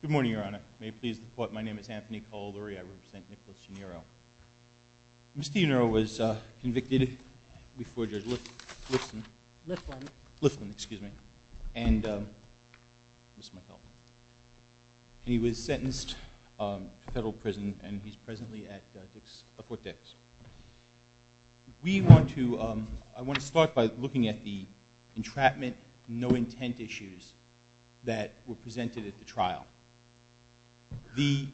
Good morning, Your Honor. May it please the Court, my name is Anthony Caldori. I represent Nicholas Yaniro. Mr. Yaniro was convicted before Judge Liflin, and he was sentenced to federal prison and he's presently at Fort Dix. I want to start by looking at the entrapment, no intent issues that were presented at the trial. The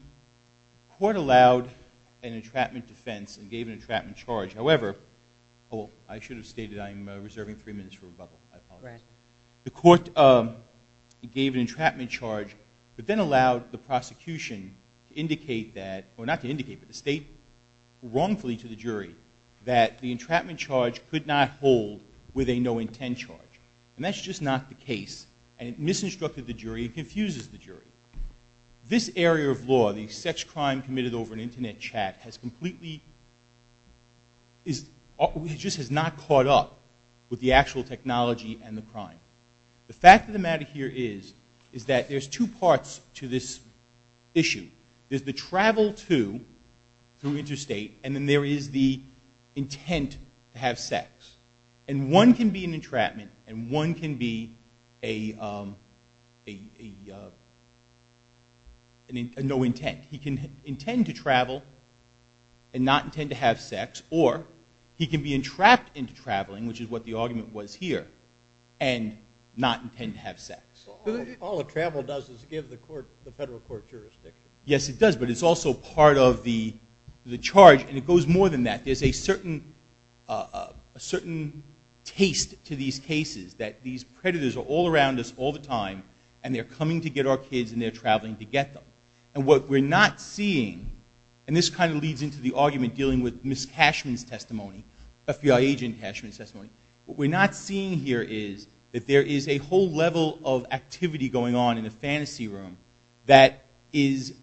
Court allowed an entrapment defense and gave an entrapment charge. However, I should have stated I'm reserving three minutes for rebuttal. I apologize. The Court gave an entrapment charge, but then allowed the prosecution to indicate that, or not to indicate, but to state wrongfully to the jury that the entrapment charge could not hold with a no intent charge. And that's just not the case, and it misinstructed the jury and confuses the jury. This area of law, the sex crime committed over an internet chat, just has not caught up with the actual technology and the crime. The fact of the matter here is that there's two parts to this issue. There's the travel to through interstate, and then there is the intent to have sex. And one can be an entrapment, and one can be a no intent. He can intend to travel and not intend to have sex, or he can be entrapped into traveling, which is what the argument was here, and not intend to have sex. All a travel does is give the federal court jurisdiction. Yes, it does, but it's also part of the charge, and it goes more than that. There's a certain taste to these cases that these predators are all around us all the time, and they're coming to get our kids, and they're traveling to get them. And what we're not seeing, and this kind of leads into the argument dealing with Ms. Cashman's testimony, FBI agent Cashman's testimony. What we're not seeing here is that there is a whole level of activity going on in the fantasy room that is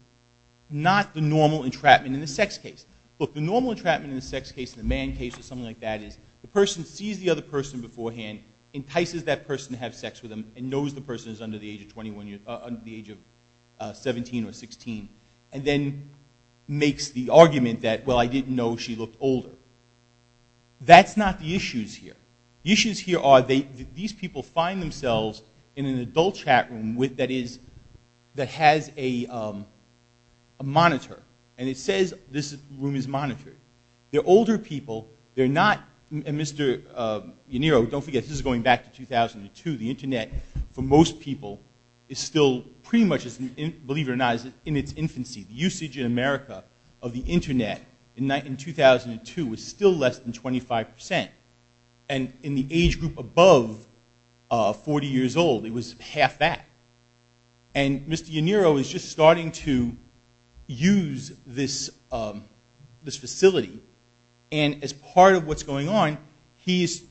not the normal entrapment in the sex case. Look, the normal entrapment in the sex case, in the man case or something like that, is the person sees the other person beforehand, entices that person to have sex with them, and knows the person is under the age of 17 or 16, and then makes the argument that, well, I didn't know she looked older. That's not the issues here. The issues here are these people find themselves in an adult chat room that has a monitor, and it says this room is monitored. They're older people. They're not, and Mr. Yanniro, don't forget, this is going back to 2002. The internet for most people is still pretty much, believe it or not, in its infancy. The usage in America of the internet in 2002 was still less than 25%, and in the age group above 40 years old, it was half that. And Mr. Yanniro is just starting to use this facility, and as part of what's going on, he's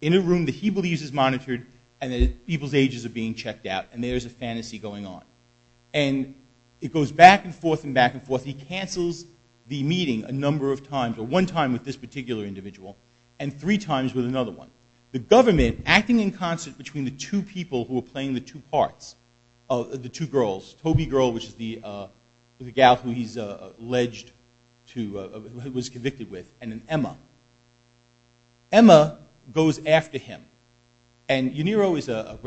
in a room that he believes is monitored, and people's ages are being checked out, and there's a fantasy going on. And it goes back and forth and back and forth. He cancels the meeting a number of times, or one time with this particular individual, and three times with another one. The government, acting in concert between the two people who were playing the two parts, the two girls, Toby Girl, which is the gal who he's alleged to, who he was convicted with, and then Emma. Emma goes after him, and Yanniro is a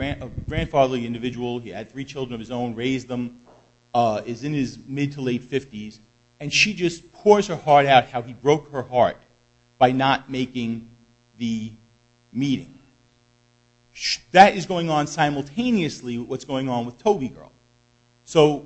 grandfatherly individual, he had three children of his own, raised them, is in his mid to late 50s, and she just pours her heart out how he broke her heart by not making the meeting. That is going on simultaneously with what's going on with Toby Girl. So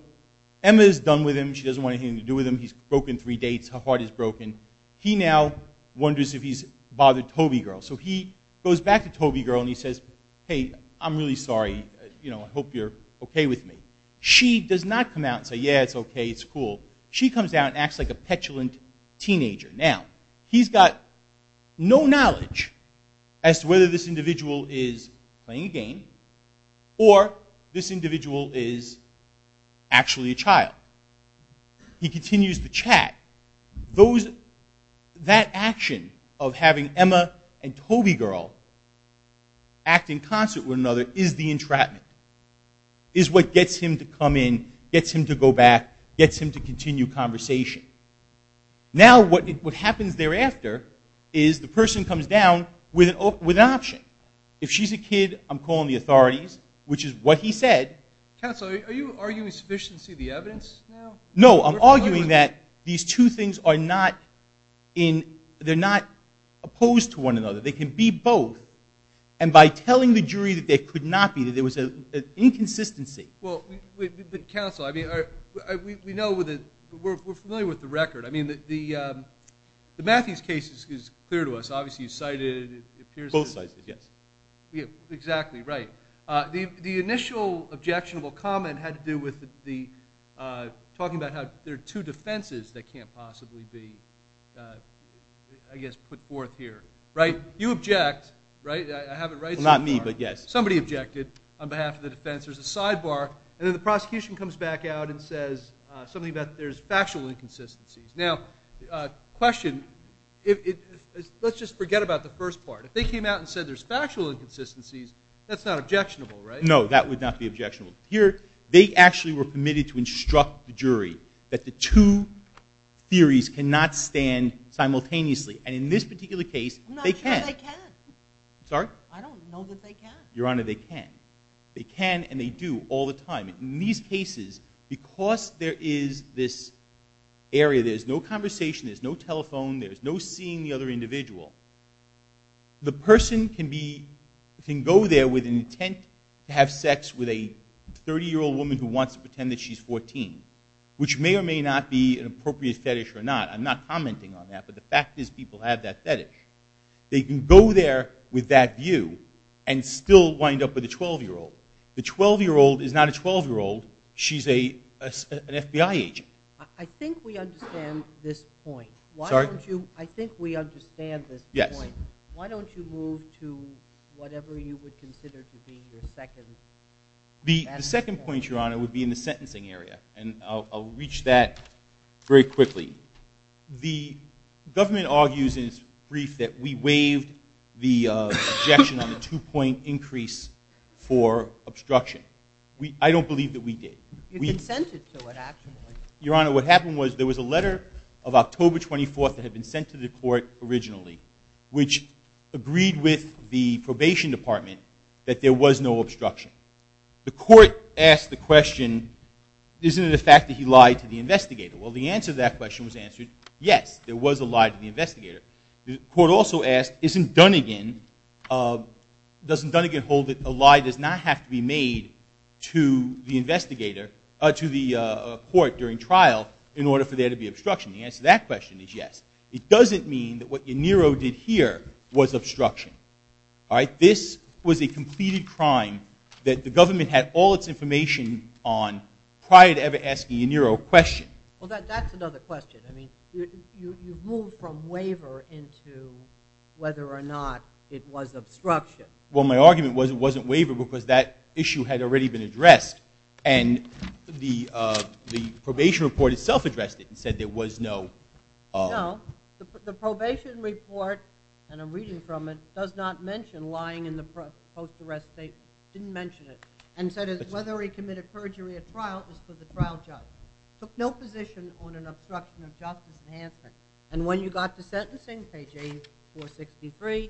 Emma is done with him, she doesn't want anything to do with him, he's broken three dates, her heart is broken. He now wonders if he's bothered Toby Girl. So he goes back to Toby Girl and he says, hey, I'm really sorry, I hope you're okay with me. She does not come out and say, yeah, it's okay, it's cool. She comes out and acts like a petulant teenager. Now, he's got no knowledge as to whether this individual is playing a game, or this individual is actually a child. He continues the chat. That action of having Emma and Toby Girl act in concert with another is the entrapment, is what gets him to come in, gets him to go back, gets him to continue conversation. Now what happens thereafter is the person comes down with an option. If she's a kid, I'm calling the authorities, which is what he said. Counsel, are you arguing sufficiency of the evidence now? No, I'm arguing that these two things are not in, they're not opposed to one another. They can be both. And by telling the jury that they could not be, there was an inconsistency. Well, counsel, I mean, we know, we're familiar with the record. I mean, the Matthews case is clear to us. Obviously, you cited it. Both sides, yes. Exactly, right. The initial objectionable comment had to do with talking about how there are two defenses that can't possibly be, I guess, put forth here, right? You object, right? I have it right so far. Well, not me, but yes. Somebody objected on behalf of the defense. There's a sidebar. And then the prosecution comes back out and says something about there's factual inconsistencies. Now, question, let's just forget about the first part. If they came out and said there's factual inconsistencies, that's not objectionable, right? No, that would not be objectionable. Here, they actually were permitted to instruct the jury that the two theories cannot stand simultaneously. And in this particular case, they can. I'm not sure they can. Sorry? I don't know that they can. Your Honor, they can. They can and they do all the time. In these cases, because there is this area, there's no conversation, there's no telephone, there's no seeing the other individual, the person can go there with an intent to have sex with a 30-year-old woman who wants to pretend that she's 14, which may or may not be an appropriate fetish or not. I'm not commenting on that, but the fact is people have that fetish. They can go there with that view and still wind up with a 12-year-old. The 12-year-old is not a 12-year-old. She's an FBI agent. I think we understand this point. Sorry? I think we understand this point. Yes. Why don't you move to whatever you would consider to be your second point? The second point, Your Honor, would be in the sentencing area, and I'll reach that very quickly. The government argues in its brief that we waived the objection on the two-point increase for obstruction. I don't believe that we did. You consented to it, actually. Your Honor, what happened was there was a letter of October 24th that had been sent to the court originally, which agreed with the probation department that there was no obstruction. The court asked the question, isn't it a fact that he lied to the investigator? Well, the answer to that question was answered, yes, there was a lie to the investigator. The court also asked, isn't Dunnegan, doesn't Dunnegan hold that a lie does not have to be made to the investigator, to the court during trial in order for there to be obstruction? The answer to that question is yes. It doesn't mean that what Yanniro did here was obstruction. All right? This was a completed crime that the government had all its information on prior to ever asking Yanniro a question. Well, that's another question. I mean, you've moved from waiver into whether or not it was obstruction. Well, my argument was it wasn't waiver because that issue had already been addressed, and the probation report itself addressed it and said there was no. No. The probation report, and I'm reading from it, does not mention lying in the post-arrest state, didn't mention it, and said whether he committed perjury at trial was for the trial judge. Took no position on an obstruction of justice enhancement. And when you got to sentencing, page 8463,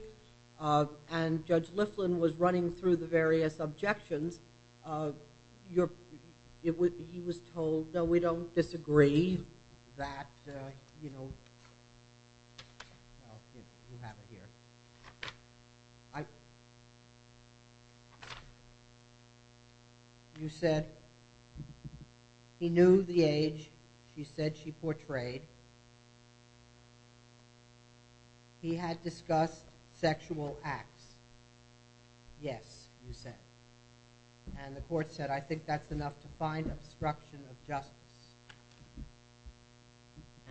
and Judge Liflin was running through the various objections, he was told, no, we don't disagree that, you know, you have it here. I, you said he knew the age she said she portrayed. He had discussed sexual acts. Yes, you said. And the court said, I think that's enough to find obstruction of justice.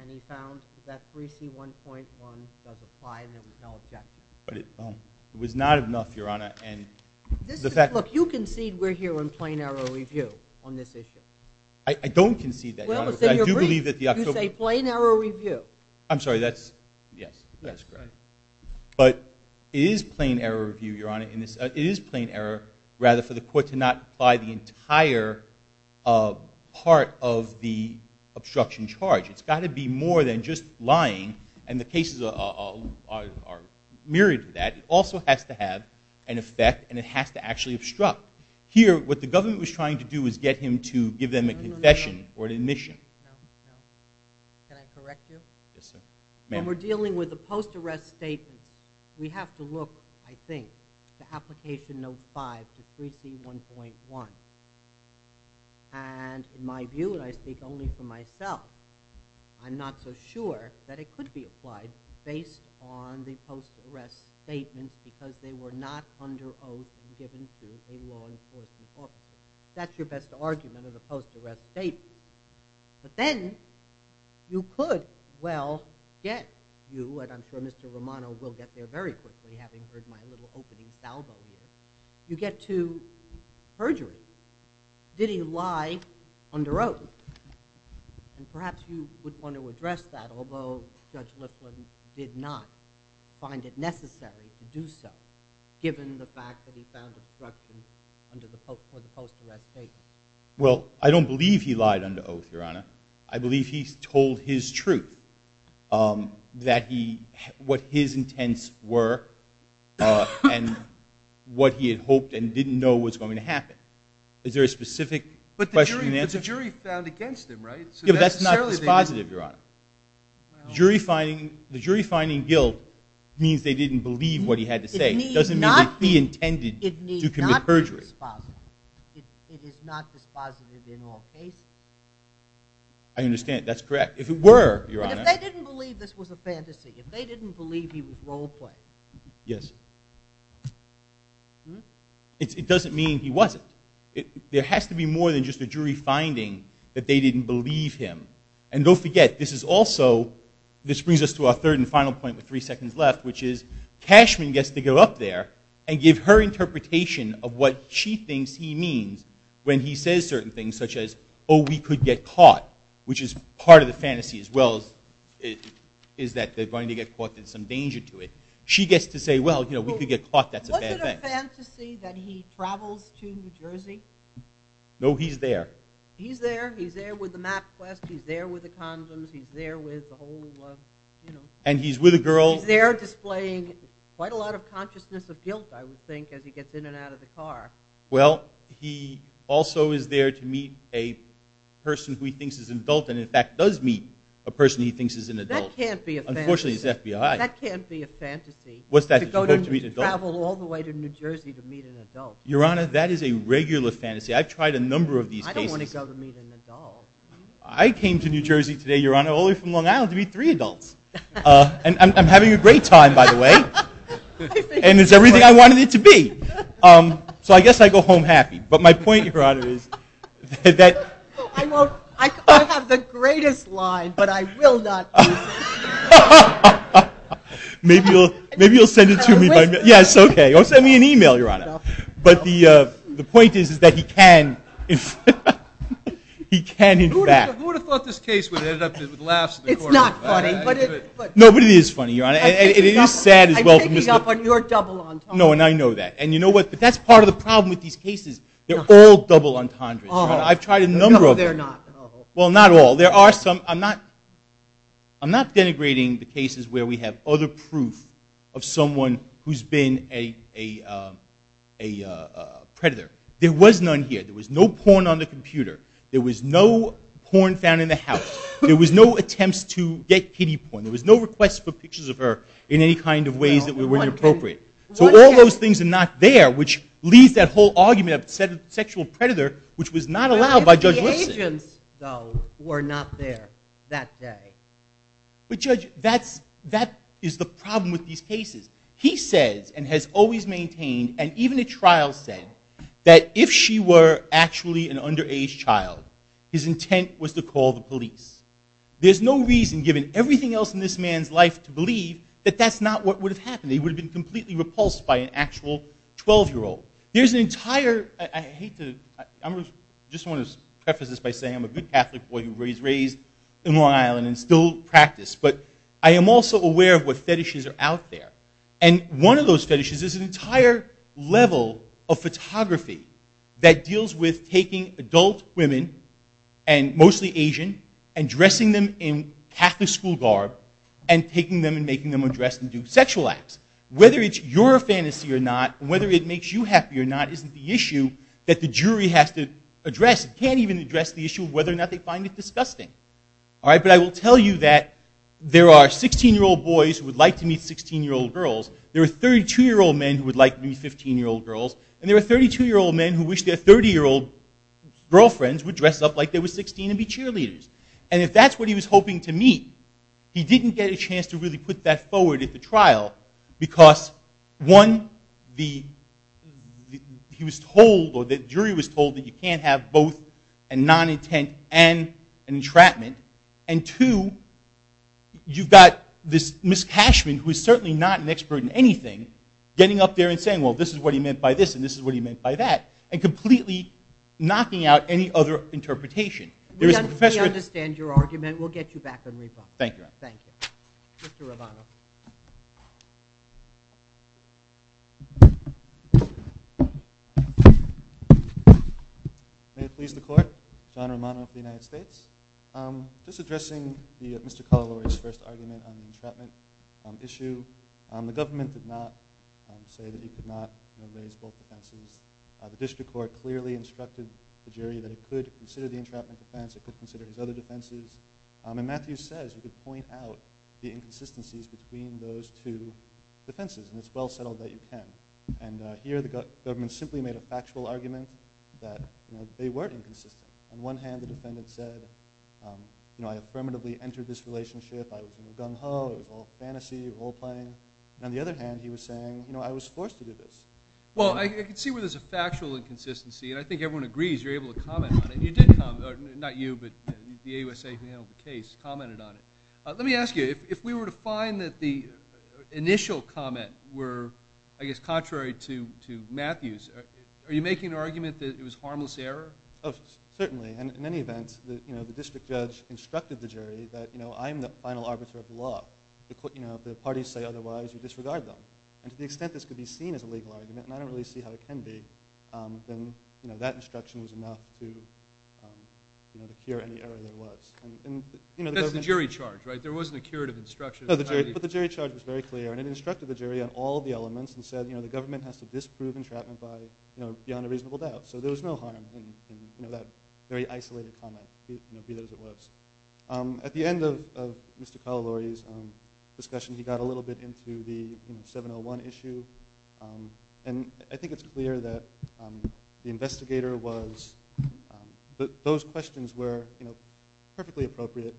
And he found that 3C1.1 does apply and there was no objection. But it was not enough, Your Honor, and the fact. Look, you concede we're here in plain error review on this issue. I don't concede that, Your Honor, but I do believe that the actual. You say plain error review. I'm sorry, that's, yes, that's correct. But it is plain error review, Your Honor, in this, it is plain error, rather for the court to not apply the entire part of the obstruction charge. It's got to be more than just lying. And the cases are myriad of that. It also has to have an effect and it has to actually obstruct. Here, what the government was trying to do was get him to give them a confession or an admission. Can I correct you? Yes, sir. When we're dealing with a post-arrest statement, we have to look, I think, to Application Note 5 to 3C1.1. And in my view, and I speak only for myself, I'm not so sure that it could be applied based on the post-arrest statement because they were not under oath and given to a law enforcement officer. That's your best argument of the post-arrest statement. But then you could, well, get you, but I'm sure Mr. Romano will get there very quickly, having heard my little opening salvo here. You get to perjury. Did he lie under oath? And perhaps you would want to address that, although Judge Lifton did not find it necessary to do so, given the fact that he found obstruction under the post-arrest statement. Well, I don't believe he lied under oath, Your Honor. I believe he told his truth, what his intents were and what he had hoped and didn't know was going to happen. Is there a specific question and answer? But the jury found against him, right? Yeah, but that's not dispositive, Your Honor. The jury finding guilt means they didn't believe what he had to say. It doesn't mean it be intended to commit perjury. It is not dispositive in all cases. I understand. That's correct. If it were, Your Honor. But if they didn't believe this was a fantasy, if they didn't believe he was role-playing. Yes. It doesn't mean he wasn't. There has to be more than just a jury finding that they didn't believe him. And don't forget, this is also, this brings us to our third and final point with three seconds left, which is Cashman gets to go up there and give her interpretation of what she thinks he means when he says certain things such as, oh, we could get caught, which is part of the fantasy as well is that they're going to get caught, there's some danger to it. She gets to say, well, you know, we could get caught, that's a bad thing. Was it a fantasy that he travels to New Jersey? No, he's there. He's there, he's there with the MapQuest, he's there with the condoms, he's there with the whole, you know. And he's with a girl. He's there displaying quite a lot of consciousness of guilt, I would think, as he gets in and out of the car. Well, he also is there to meet a person who he thinks is an adult and in fact does meet a person he thinks is an adult. That can't be a fantasy. Unfortunately, he's FBI. That can't be a fantasy. What's that? To travel all the way to New Jersey to meet an adult. Your Honor, that is a regular fantasy. I've tried a number of these cases. I don't want to go to meet an adult. I came to New Jersey today, Your Honor, all the way from Long Island to meet three adults. And I'm having a great time, by the way. And it's everything I wanted it to be. So I guess I go home happy. But my point, Your Honor, is that. I have the greatest line, but I will not use it. Maybe you'll send it to me. Yes, okay. Or send me an e-mail, Your Honor. But the point is that he can, he can in fact. Who would have thought this case would end up with laughs? It's not funny. No, but it is funny, Your Honor. And it is sad as well. I'm picking up on your double entendres. No, and I know that. And you know what? But that's part of the problem with these cases. They're all double entendres. I've tried a number of them. No, they're not. Well, not all. There are some. I'm not denigrating the cases where we have other proof of someone who's been a predator. There was none here. There was no porn on the computer. There was no porn found in the house. There was no attempts to get pity porn. There was no request for pictures of her in any kind of ways that were inappropriate. So all those things are not there, which leads that whole argument of sexual predator, which was not allowed by Judge Lipson. The agents, though, were not there that day. But, Judge, that is the problem with these cases. He says, and has always maintained, and even at trial said, that if she were actually an underage child, his intent was to call the police. There's no reason, given everything else in this man's life to believe, that that's not what would have happened. He would have been completely repulsed by an actual 12-year-old. There's an entire, I hate to, I just want to preface this by saying I'm a good Catholic boy who was raised in Long Island and still practiced, but I am also aware of what fetishes are out there. And one of those fetishes is an entire level of photography that deals with taking adult women, and mostly Asian, and dressing them in Catholic school garb, and taking them and making them undress and do sexual acts. Whether it's your fantasy or not, whether it makes you happy or not, isn't the issue that the jury has to address. It can't even address the issue of whether or not they find it disgusting. But I will tell you that there are 16-year-old boys who would like to meet 16-year-old girls. There are 32-year-old men who would like to meet 15-year-old girls. And there are 32-year-old men who wish their 30-year-old girlfriends would dress up like they were 16 and be cheerleaders. And if that's what he was hoping to meet, he didn't get a chance to really put that forward at the trial, because, one, the jury was told that you can't have both a non-intent and an entrapment. And, two, you've got this Ms. Cashman, who is certainly not an expert in anything, getting up there and saying, well, this is what he meant by this, and this is what he meant by that, and completely knocking out any other interpretation. We understand your argument. We'll get you back on rebuttal. Thank you, Your Honor. Thank you. Mr. Romano. May it please the Court, John Romano for the United States. Just addressing Mr. Calalore's first argument on the entrapment issue, the government did not say that he could not raise both offenses. The district court clearly instructed the jury that it could consider the entrapment offense, it could consider his other defenses. And Matthew says you could point out the inconsistencies between those two defenses, and it's well settled that you can. And here the government simply made a factual argument that they weren't inconsistent. On one hand, the defendant said, you know, I affirmatively entered this relationship, I was in the gung-ho, it was all fantasy, role-playing. On the other hand, he was saying, you know, I was forced to do this. Well, I can see where there's a factual inconsistency, and I think everyone agrees you're able to comment on it. You did comment, not you, but the AUSA panel of the case commented on it. Let me ask you, if we were to find that the initial comment were, I guess, contrary to Matthew's, are you making an argument that it was harmless error? Oh, certainly. And in any event, you know, the district judge instructed the jury that, you know, I'm the final arbiter of the law. You know, if the parties say otherwise, you disregard them. And to the extent this could be seen as a legal argument, and I don't really see how it can be, then, you know, that instruction was enough to, you know, to cure any error there was. That's the jury charge, right? There wasn't a curative instruction. No, but the jury charge was very clear, and it instructed the jury on all the elements and said, you know, the government has to disprove entrapment by, you know, beyond a reasonable doubt. So there was no harm in, you know, that very isolated comment, you know, be as it was. At the end of Mr. Collilore's discussion, he got a little bit into the, you know, 701 issue. And I think it's clear that the investigator was, those questions were, you know, perfectly appropriate.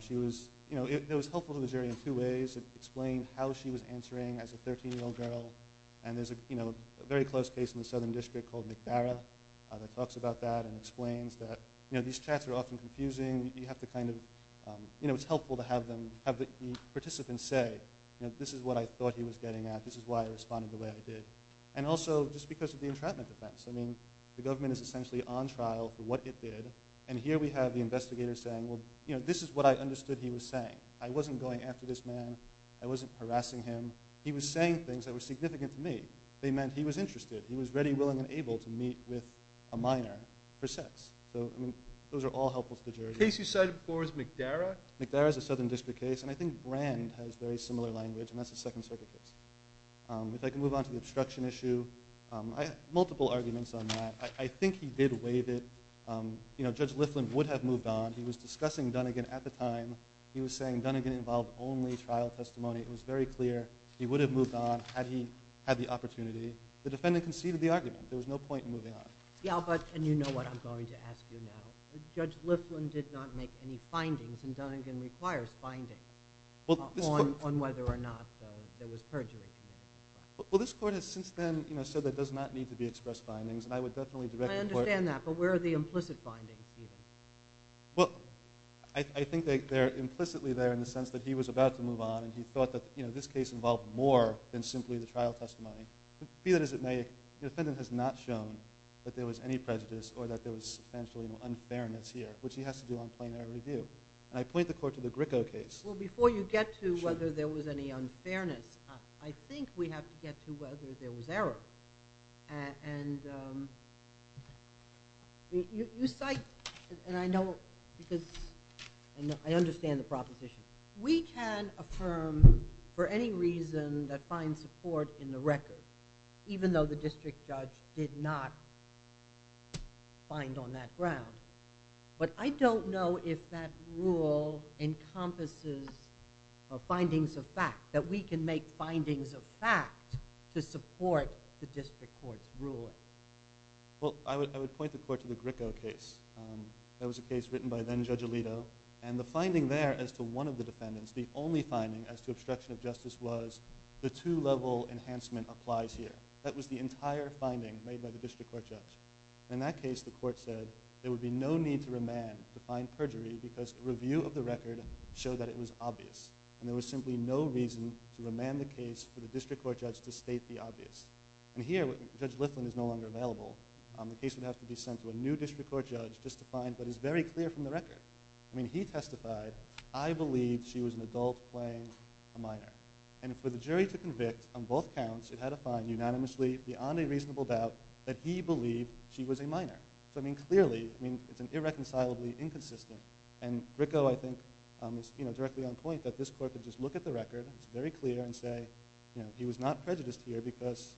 She was, you know, it was helpful to the jury in two ways. It explained how she was answering as a 13-year-old girl. And there's, you know, a very close case in the southern district called McBarra that talks about that and explains that, you know, these chats are often confusing. You have to kind of, you know, it's helpful to have them, have the participants say, you know, this is what I thought he was getting at. This is why I responded the way I did. And also just because of the entrapment defense. I mean, the government is essentially on trial for what it did. And here we have the investigator saying, well, you know, this is what I understood he was saying. I wasn't going after this man. I wasn't harassing him. He was saying things that were significant to me. They meant he was interested. He was ready, willing, and able to meet with a minor for sex. So, I mean, those are all helpful to the jury. The case you cited before is McBarra? McBarra is a southern district case. And I think Brand has very similar language, and that's a Second Circuit case. If I can move on to the obstruction issue, I had multiple arguments on that. I think he did waive it. You know, Judge Liflin would have moved on. He was discussing Dunigan at the time. He was saying Dunigan involved only trial testimony. It was very clear he would have moved on had he had the opportunity. The defendant conceded the argument. There was no point in moving on. Yeah, but, and you know what I'm going to ask you now. Judge Liflin did not make any findings, and Dunigan requires findings on whether or not there was perjury. Well, this court has since then, you know, said there does not need to be expressed findings, and I would definitely direct the court to... I understand that, but where are the implicit findings, Stephen? Well, I think they're implicitly there in the sense that he was about to move on, and he thought that, you know, this case involved more than simply the trial testimony. Be that as it may, the defendant has not shown that there was any prejudice or that there was substantial unfairness here, which he has to do on plain error review. And I point the court to the Gricko case. Well, before you get to whether there was any unfairness, I think we have to get to whether there was error. And you cite, and I know, because I understand the proposition. We can affirm for any reason that finds support in the record, even though the district judge did not find on that ground. But I don't know if that rule encompasses findings of fact, that we can make findings of fact to support the district court's ruling. Well, I would point the court to the Gricko case. That was a case written by then-Judge Alito. And the finding there as to one of the defendants, the only finding as to obstruction of justice, was the two-level enhancement applies here. That was the entire finding made by the district court judge. And in that case, the court said there would be no need to remand the fine perjury because a review of the record showed that it was obvious. And there was simply no reason to remand the case for the district court judge to state the obvious. And here, Judge Liflin is no longer available. The case would have to be sent to a new district court judge just to find what is very clear from the record. I mean, he testified, I believe she was an adult playing a minor. And for the jury to convict on both counts, it had to find unanimously, beyond a reasonable doubt, that he believed she was a minor. So, I mean, clearly, I mean, it's an irreconcilably inconsistent. And Gricko, I think, is directly on point that this court could just look at the record, it's very clear, and say, you know, he was not prejudiced here because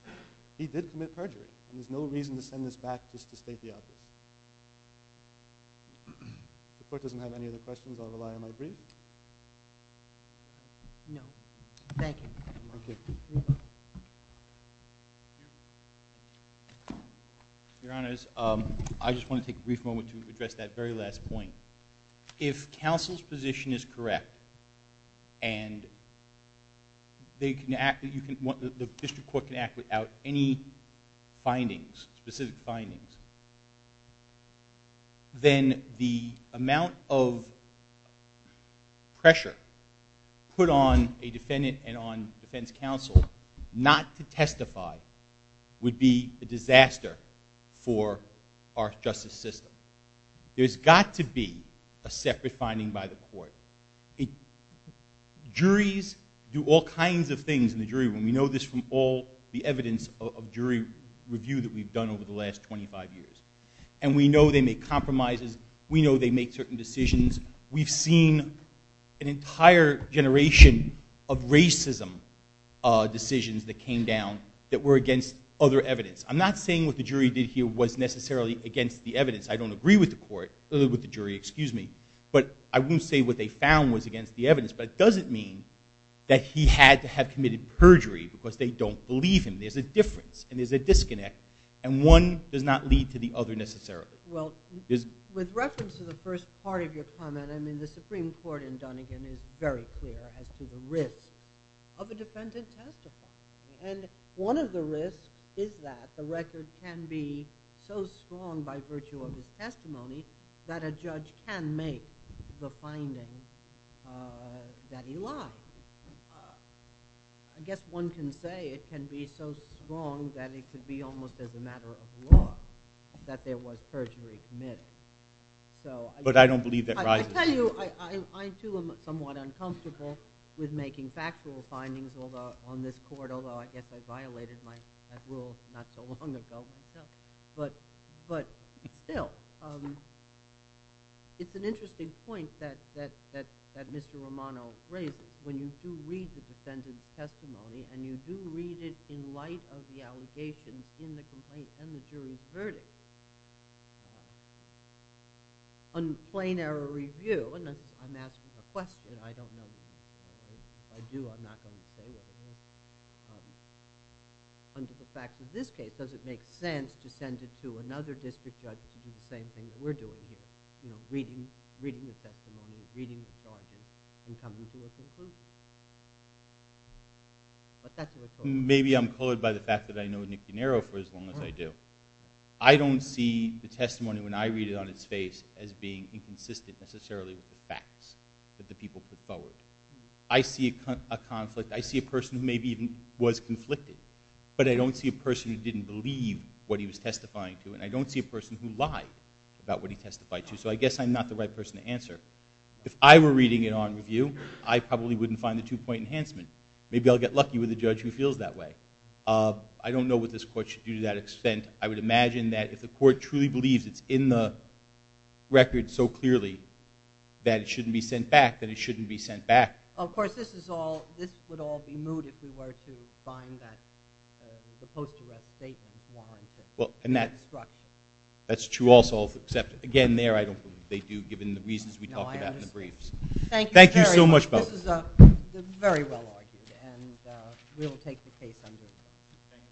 he did commit perjury. And there's no reason to send this back just to state the obvious. If the court doesn't have any other questions, I'll rely on my brief. No. Thank you. Okay. Your Honors, I just want to take a brief moment to address that very last point. If counsel's position is correct and the district court can act without any findings, specific findings, then the amount of pressure put on a defendant and on defense counsel not to testify would be a disaster for our justice system. There's got to be a separate finding by the court. Juries do all kinds of things in the jury room. We know this from all the evidence of jury review that we've done over the last 25 years. And we know they make compromises. We know they make certain decisions. We've seen an entire generation of racism decisions that came down that were against other evidence. I'm not saying what the jury did here was necessarily against the evidence. I don't agree with the court, with the jury, excuse me. But I won't say what they found was against the evidence. But it doesn't mean that he had to have committed perjury because they don't believe him. There's a difference and there's a disconnect. And one does not lead to the other necessarily. Well, with reference to the first part of your comment, I mean, the Supreme Court in Dunnigan is very clear as to the risk of a defendant testifying. And one of the risks is that the record can be so strong by virtue of his testimony that a judge can make the finding that he lied. I guess one can say it can be so strong that it could be almost as a matter of law that there was perjury committed. I tell you, I too am somewhat uncomfortable with making factual findings on this court, although I guess I violated that rule not so long ago myself. But still, it's an interesting point that Mr. Romano raises. When you do read the defendant's testimony and you do read it in light of the allegations in the complaint and the jury's verdict, on plain error review, and I'm asking a question, I don't know. If I do, I'm not going to say what it is. Under the fact of this case, does it make sense to send it to another district judge to do the same thing that we're doing here, you know, reading the testimony, reading the charges, and coming to a conclusion? But that's what it's all about. Maybe I'm colored by the fact that I know Nick DiNero for as long as I do. I don't see the testimony when I read it on its face as being inconsistent necessarily with the facts that the people put forward. I see a conflict. I see a person who maybe even was conflicted, but I don't see a person who didn't believe what he was testifying to, and I don't see a person who lied about what he testified to. So I guess I'm not the right person to answer. If I were reading it on review, I probably wouldn't find the two-point enhancement. Maybe I'll get lucky with a judge who feels that way. I don't know what this court should do to that extent. I would imagine that if the court truly believes it's in the record so clearly that it shouldn't be sent back, then it shouldn't be sent back. Of course, this would all be moot if we were to find the post-arrest statement warranted. Well, and that's true also, except, again, there I don't believe they do, given the reasons we talked about in the briefs. Thank you very much. Thank you so much, both. This is very well argued, and we'll take the case on your behalf.